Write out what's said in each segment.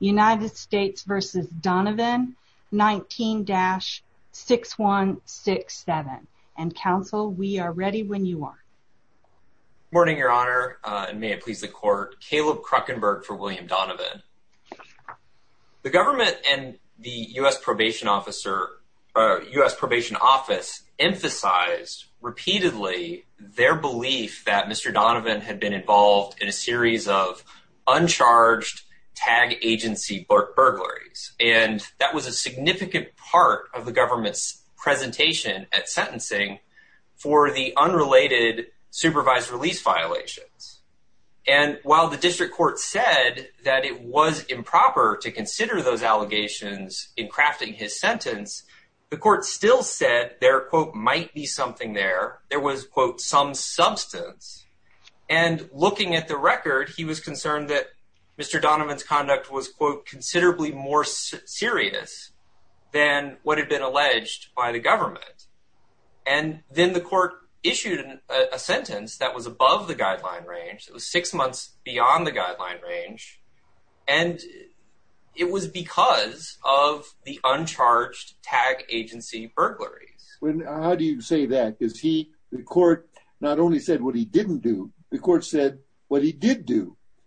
United States v. Donovan 19-6167 and counsel we are ready when you are. Morning your honor and may it please the court Caleb Kruckenberg for William Donovan. The government and the U.S. probation officer, U.S. probation office emphasized repeatedly their belief that Mr. Donovan had been involved in a agency burglaries and that was a significant part of the government's presentation at sentencing for the unrelated supervised release violations and while the district court said that it was improper to consider those allegations in crafting his sentence the court still said there quote might be something there there was quote some substance and looking at the record he was concerned that mr. Donovan's conduct was quote considerably more serious than what had been alleged by the government and then the court issued a sentence that was above the guideline range it was six months beyond the guideline range and it was because of the uncharged tag agency burglaries when how do you say that is he the court not only said what he didn't do the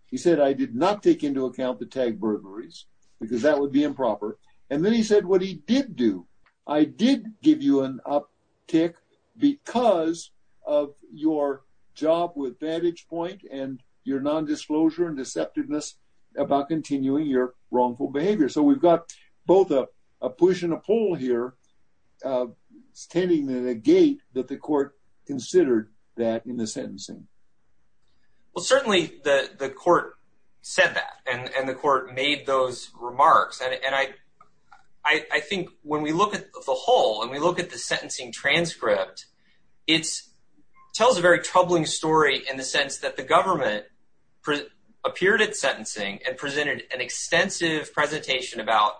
he said I did not take into account the tag burglaries because that would be improper and then he said what he did do I did give you an uptick because of your job with vantage point and your non-disclosure and deceptiveness about continuing your wrongful behavior so we've got both a push and a pull here standing in a gate that the court considered that in the sentencing well certainly the the court said that and and the court made those remarks and I I think when we look at the whole and we look at the sentencing transcript it's tells a very troubling story in the sense that the government for appeared at sentencing and presented an extensive presentation about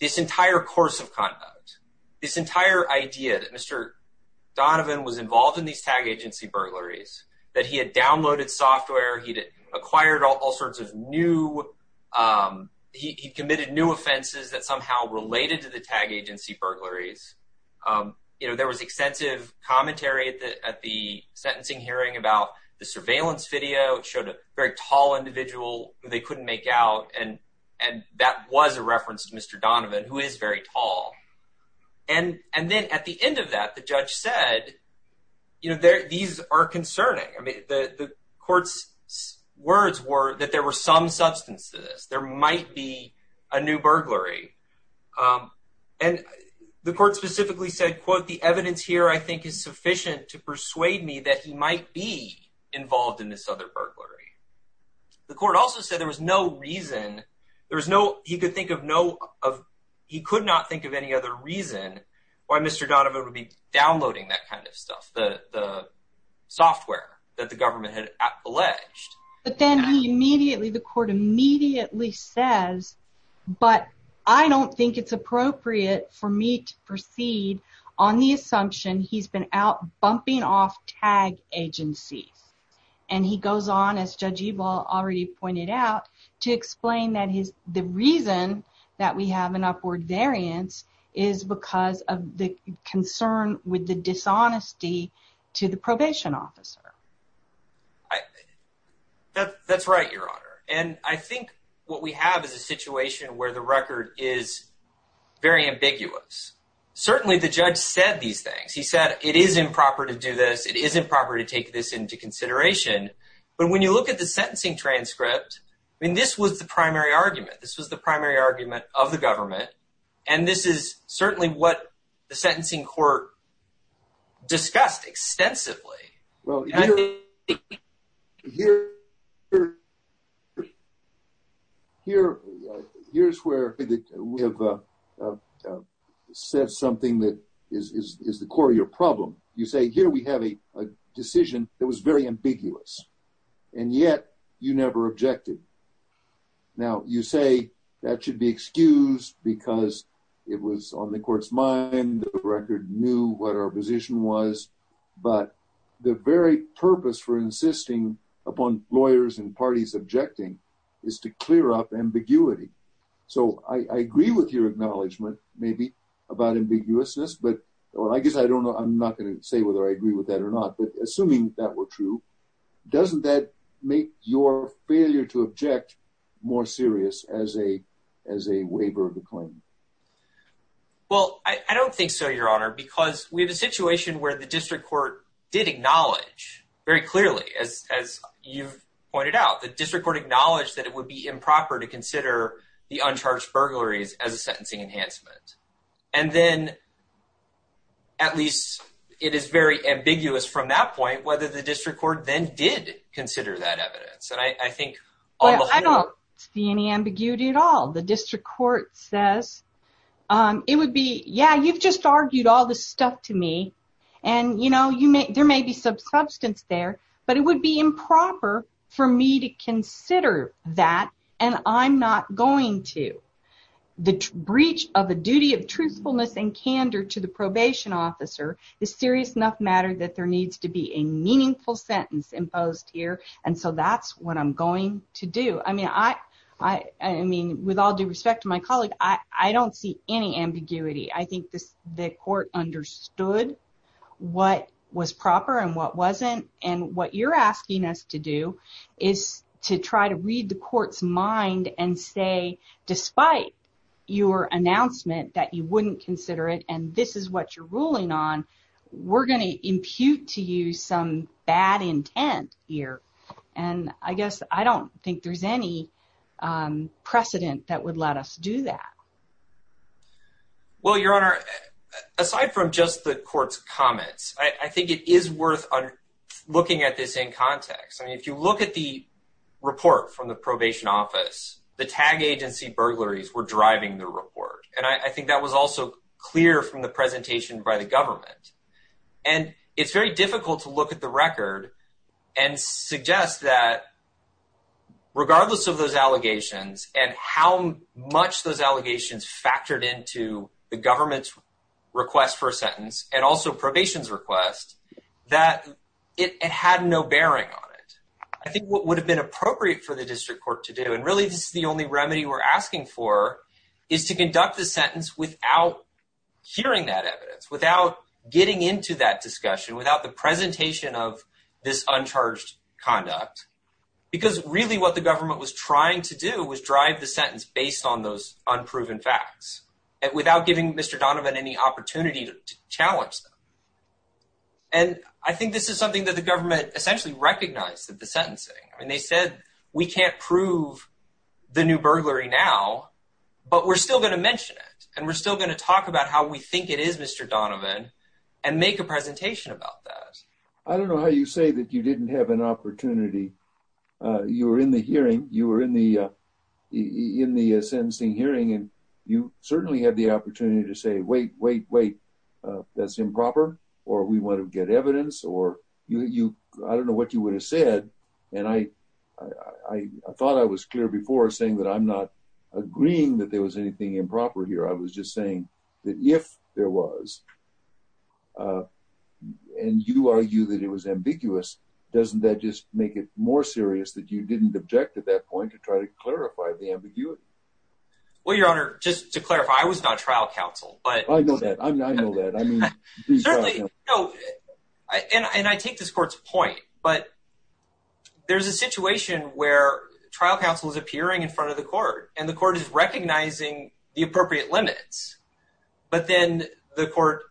this entire course of conduct this entire idea that mr. Donovan was involved in these tag agency burglaries that he had downloaded software he did acquired all sorts of new he committed new offenses that somehow related to the tag agency burglaries you know there was extensive commentary at the sentencing hearing about the surveillance video showed a very tall individual they couldn't make out and and that was a reference to mr. Donovan who is very tall and and then at the end of that the judge said you know there these are concerning I mean the courts words were that there were some substance to this there might be a new burglary and the court specifically said quote the evidence here I think is sufficient to persuade me that he might be involved in this other burglary the court also said there was no reason there was no he could think of no of he downloading that kind of stuff the software that the government had alleged but then he immediately the court immediately says but I don't think it's appropriate for me to proceed on the assumption he's been out bumping off tag agencies and he goes on as judge eball already pointed out to explain that he's the reason that we have an upward variance is because of the concern with the dishonesty to the probation officer that's right your honor and I think what we have is a situation where the record is very ambiguous certainly the judge said these things he said it is improper to do this it isn't proper to take this into consideration but when you look at the argument this was the primary argument of the government and this is certainly what the sentencing court discussed extensively well here here here's where we have said something that is the core of your problem you say here we have a and yet you never objected now you say that should be excused because it was on the court's mind the record knew what our position was but the very purpose for insisting upon lawyers and parties objecting is to clear up ambiguity so I agree with your acknowledgement maybe about ambiguousness but well I guess I don't know I'm not going to say whether I agree with that or not but assuming that were true doesn't that make your failure to object more serious as a as a waiver of the claim well I don't think so your honor because we have a situation where the district court did acknowledge very clearly as you've pointed out the district court acknowledged that it would be improper to consider the uncharged burglaries as a sentencing enhancement and then at least it is very ambiguous from that point whether the district court then did consider that evidence and I think I don't see any ambiguity at all the district court says it would be yeah you've just argued all this stuff to me and you know you make there may be some substance there but it would be improper for me to consider that and I'm not going to the breach of the duty of truthfulness and candor to probation officer is serious enough matter that there needs to be a meaningful sentence imposed here and so that's what I'm going to do I mean I I mean with all due respect to my colleague I don't see any ambiguity I think this the court understood what was proper and what wasn't and what you're asking us to do is to try to read the court's mind and say despite your announcement that you wouldn't consider it and this is what you're ruling on we're going to impute to you some bad intent here and I guess I don't think there's any precedent that would let us do that well your honor aside from just the court's comments I think it is worth looking at this in context I mean if you look at the report from the probation office the tag agency burglaries were driving the report and I think that was also clear from the presentation by the government and it's very difficult to look at the record and suggest that regardless of those allegations and how much those allegations factored into the government's request for a sentence and also probation's request that it had no bearing on it I think what would have been appropriate for the district court to do and really this is the only remedy we're asking for is to conduct the sentence without hearing that evidence without getting into that discussion without the presentation of this uncharged conduct because really what the government was trying to do was drive the sentence based on those unproven facts and without giving mr. Donovan any opportunity to challenge them and I think this is something that the government essentially recognized the sentencing and they said we can't prove the new burglary now but we're still going to mention it and we're still going to talk about how we think it is mr. Donovan and make a presentation about that I don't know how you say that you didn't have an opportunity you were in the hearing you were in the in the ascending hearing and you certainly had the opportunity to say wait wait wait that's improper or we want to get evidence or you I don't know what you would have said and I I thought I was clear before saying that I'm not agreeing that there was anything improper here I was just saying that if there was and you argue that it was ambiguous doesn't that just make it more serious that you didn't object at that point to try to clarify the ambiguity well your honor just to clarify I was not trial counsel but I know that I'm there's a situation where trial counsel is appearing in front of the court and the court is recognizing the appropriate limits but then the court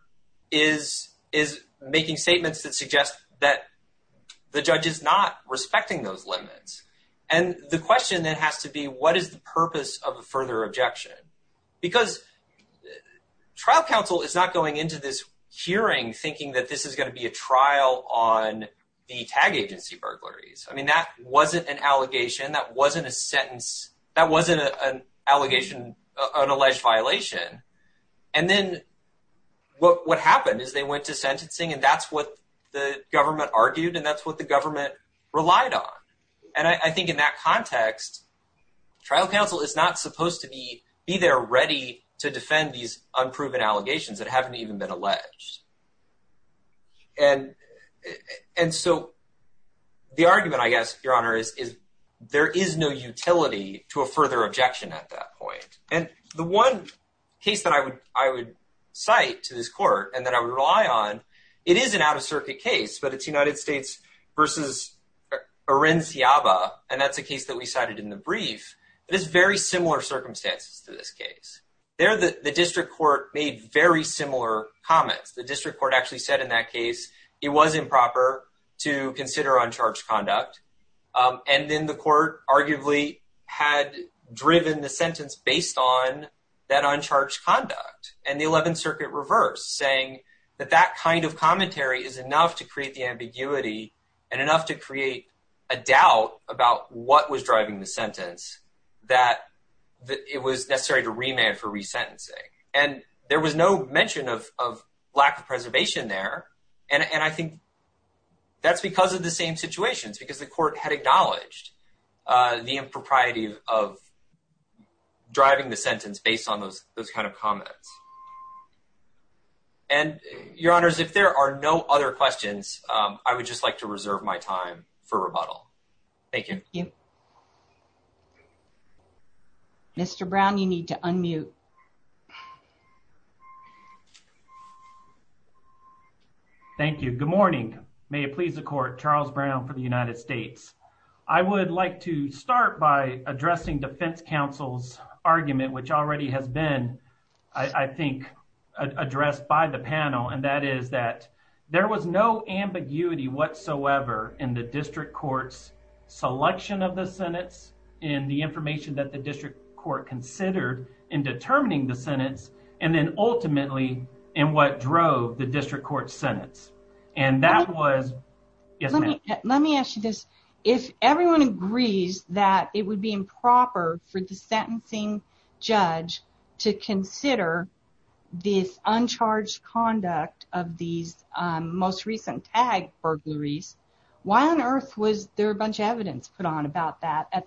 is is making statements that suggest that the judge is not respecting those limits and the question that has to be what is the purpose of a further objection because trial counsel is not going into this hearing thinking that this is going to be a trial on the tag agency burglaries I mean that wasn't an allegation that wasn't a sentence that wasn't an allegation an alleged violation and then what what happened is they went to sentencing and that's what the government argued and that's what the government relied on and I think in that context trial counsel is not supposed to be be there ready to defend these that haven't even been alleged and and so the argument I guess your honor is there is no utility to a further objection at that point and the one case that I would I would cite to this court and that I would rely on it is an out of circuit case but it's United States versus a rinse yaba and that's a case that we cited in the brief it is very similar circumstances to this case there that the district court made very similar comments the district court actually said in that case it was improper to consider uncharged conduct and then the court arguably had driven the sentence based on that uncharged conduct and the 11th Circuit reversed saying that that kind of commentary is enough to create the ambiguity and enough to create a doubt about what was for resentencing and there was no mention of lack of preservation there and and I think that's because of the same situations because the court had acknowledged the impropriety of driving the sentence based on those those kind of comments and your honors if there are no other questions I would just like to thank you good morning may it please the court Charles Brown for the United States I would like to start by addressing defense counsel's argument which already has been I think addressed by the panel and that is that there was no ambiguity whatsoever in the district courts selection of the sentence in the the sentence and then ultimately in what drove the district court sentence and that was let me ask you this if everyone agrees that it would be improper for the sentencing judge to consider this uncharged conduct of these most recent tag burglaries why on earth was there a bunch of evidence put on about that at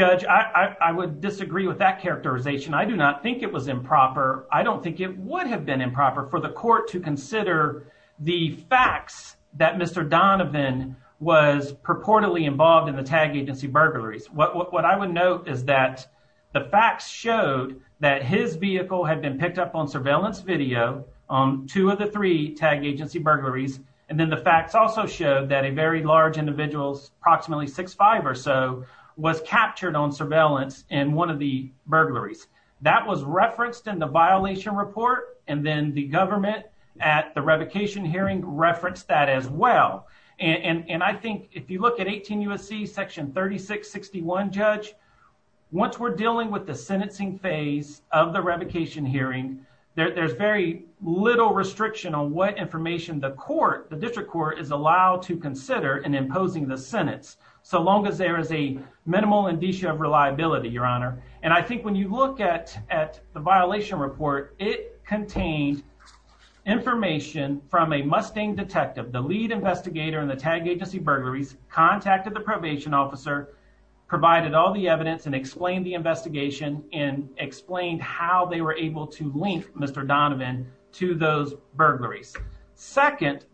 I would disagree with that characterization I do not think it was improper I don't think it would have been improper for the court to consider the facts that mr. Donovan was purportedly involved in the tag agency burglaries what I would note is that the facts showed that his vehicle had been picked up on surveillance video on two of the three tag agency burglaries and then the facts also showed that a very large individuals approximately six five or so was captured on surveillance in one of the burglaries that was referenced in the violation report and then the government at the revocation hearing referenced that as well and and I think if you look at 18 USC section 36 61 judge once we're dealing with the sentencing phase of the revocation hearing there's very little restriction on what information the court the there is a minimal indicia of reliability your honor and I think when you look at at the violation report it contains information from a Mustang detective the lead investigator in the tag agency burglaries contacted the probation officer provided all the evidence and explained the investigation and explained how they were able to link mr. Donovan to those burglaries second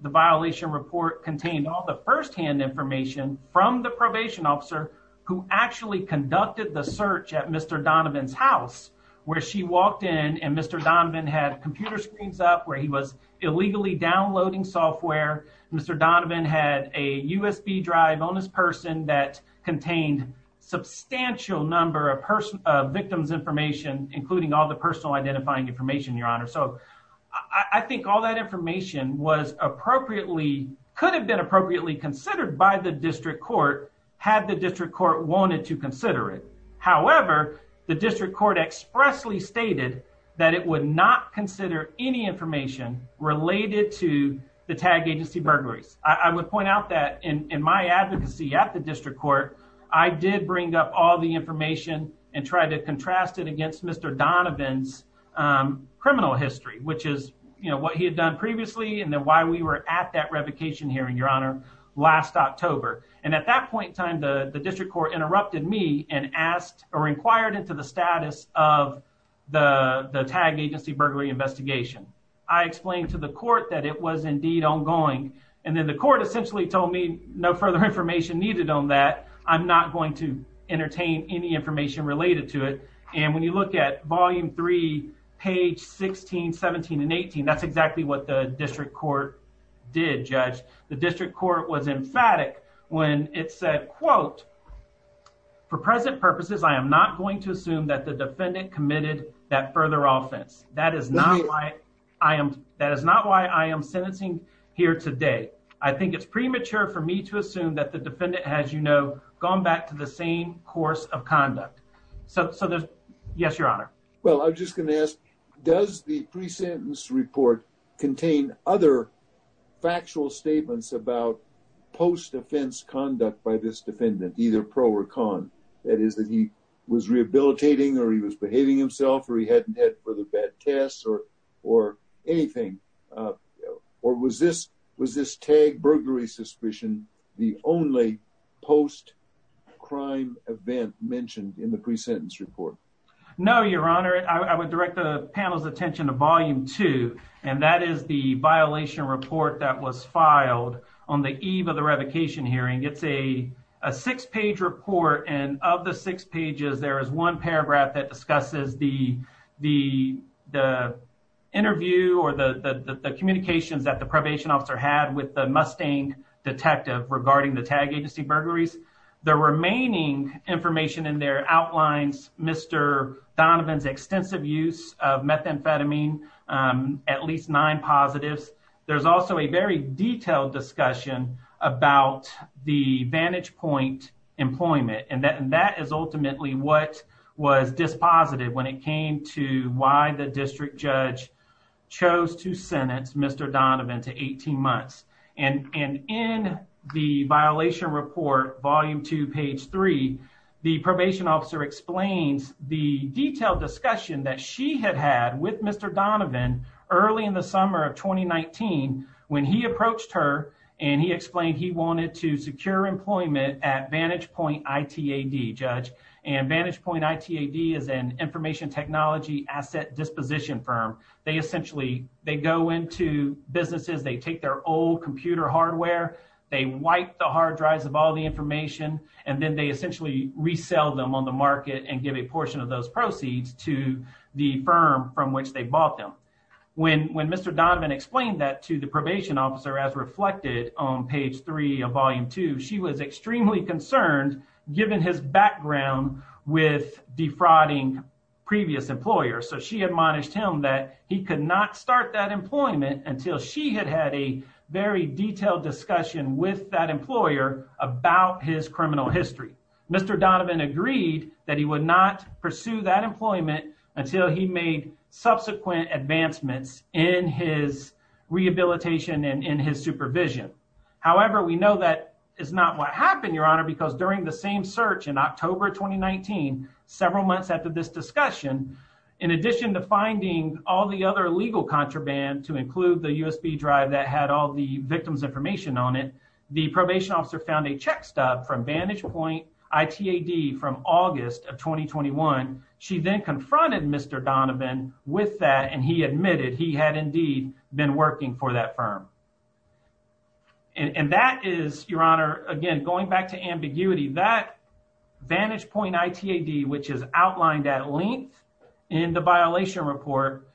officer who actually conducted the search at mr. Donovan's house where she walked in and mr. Donovan had computer screens up where he was illegally downloading software mr. Donovan had a USB Drive on this person that contained substantial number of person victims information including all the personal identifying information your honor so I think all that information was appropriately could have been appropriately considered by the district court had the district court wanted to consider it however the district court expressly stated that it would not consider any information related to the tag agency burglaries I would point out that in my advocacy at the district court I did bring up all the information and try to contrast it against mr. Donovan's criminal history which is you know what he had done previously and why we were at that revocation hearing your honor last October and at that point time the the district court interrupted me and asked or inquired into the status of the the tag agency burglary investigation I explained to the court that it was indeed ongoing and then the court essentially told me no further information needed on that I'm not going to entertain any information related to it and when you look at volume 3 page 16 17 and 18 that's did judge the district court was emphatic when it said quote for present purposes I am NOT going to assume that the defendant committed that further offense that is not why I am that is not why I am sentencing here today I think it's premature for me to assume that the defendant has you know gone back to the same course of conduct so there's yes your honor well I'm just gonna ask does the pre-sentence report contain other factual statements about post offense conduct by this defendant either pro or con that is that he was rehabilitating or he was behaving himself or he hadn't had further bad tests or or anything or was this was this tag burglary suspicion the only post-crime event mentioned in the pre-sentence report no your honor I would direct the panel's attention to volume 2 and that is the violation report that was filed on the eve of the revocation hearing it's a six-page report and of the six pages there is one paragraph that discusses the the the interview or the communications that the probation officer had with the Mustang detective regarding the tag agency burglaries the remaining information in there outlines mr. Donovan's extensive use of methamphetamine at least nine positives there's also a very detailed discussion about the vantage point employment and that and that is ultimately what was dispositive when it came to why the district judge chose to page three the probation officer explains the detailed discussion that she had had with mr. Donovan early in the summer of 2019 when he approached her and he explained he wanted to secure employment at vantage point ITAD judge and vantage point ITAD is an information technology asset disposition firm they essentially they go into businesses they take their old computer hardware they wipe the hard drives of all the information and then they essentially resell them on the market and give a portion of those proceeds to the firm from which they bought them when when mr. Donovan explained that to the probation officer as reflected on page 3 of volume 2 she was extremely concerned given his background with defrauding previous employers so she admonished him that he could not start that employment until she had had a very detailed discussion with that employer about his criminal history mr. Donovan agreed that he would not pursue that employment until he made subsequent advancements in his rehabilitation and in his supervision however we know that is not what happened your honor because during the same search in October 2019 several months after this discussion in addition to finding all the other legal contraband to include the USB drive that had all the victim's information on it the probation officer found a check stub from vantage point ITAD from August of 2021 she then confronted mr. Donovan with that and he admitted he had indeed been working for that firm and that is your honor again going back to ambiguity that vantage point ITAD which is outlined at length in the violation report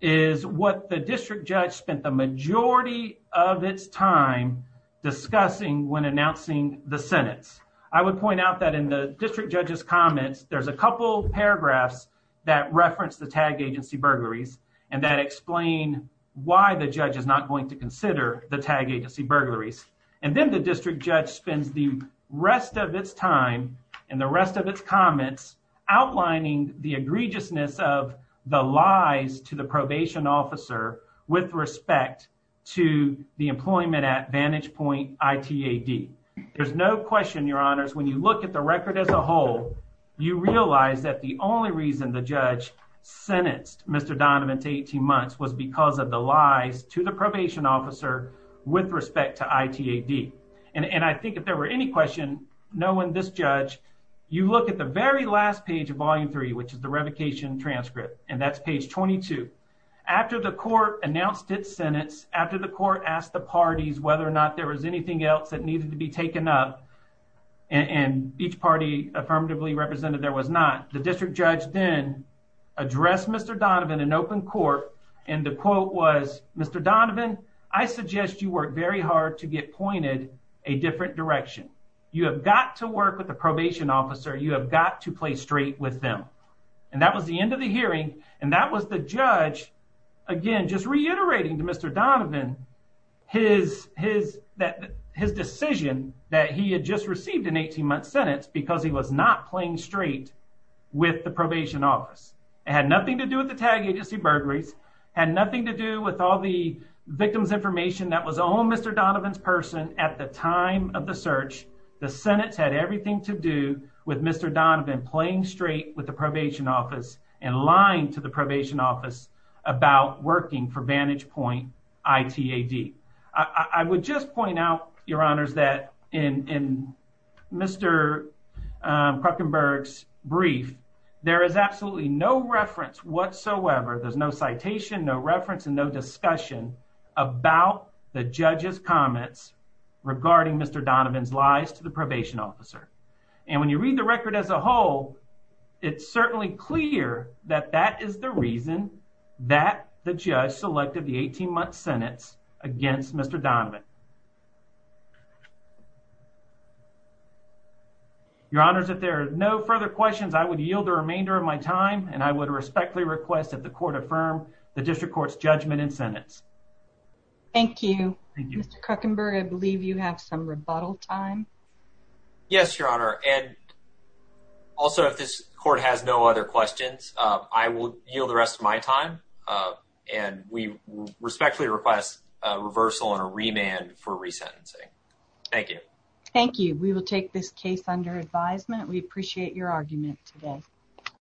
is what the district judge spent the majority of its time discussing when announcing the sentence I would point out that in the district judge's comments there's a couple paragraphs that reference the tag agency burglaries and that explain why the judge is not going to consider the tag agency burglaries and then the district judge spends the rest of its time and the rest of its comments outlining the egregiousness of the lies to the probation officer with respect to the employment at vantage point ITAD there's no question your honors when you look at the record as a whole you realize that the only reason the judge sentenced mr. Donovan to 18 months was because of the lies to the probation officer with respect to ITAD and and I think if there were any question no one judge you look at the very last page of volume 3 which is the revocation transcript and that's page 22 after the court announced its sentence after the court asked the parties whether or not there was anything else that needed to be taken up and each party affirmatively represented there was not the district judge then addressed mr. Donovan in open court and the quote was mr. Donovan I suggest you work very hard to get pointed a different direction you have got to work with the probation officer you have got to play straight with them and that was the end of the hearing and that was the judge again just reiterating to mr. Donovan his his that his decision that he had just received an 18-month sentence because he was not playing straight with the probation office it had nothing to do with the tag agency burglaries had nothing to do with all the victims information that was on mr. Donovan's person at the time of the search the Senate's had everything to do with mr. Donovan playing straight with the probation office and lying to the probation office about working for Vantage Point ITAD I would just point out your honors that in mr. Kruckenberg's brief there is absolutely no reference whatsoever there's no citation no regarding mr. Donovan's lies to the probation officer and when you read the record as a whole it's certainly clear that that is the reason that the judge selected the 18-month sentence against mr. Donovan your honors if there are no further questions I would yield the remainder of my time and I would respectfully request that the court affirm the district courts judgment in mr. Kruckenberg I believe you have some rebuttal time yes your honor and also if this court has no other questions I will yield the rest of my time and we respectfully request reversal and a remand for resentencing thank you thank you we will take this case under advisement we appreciate your argument today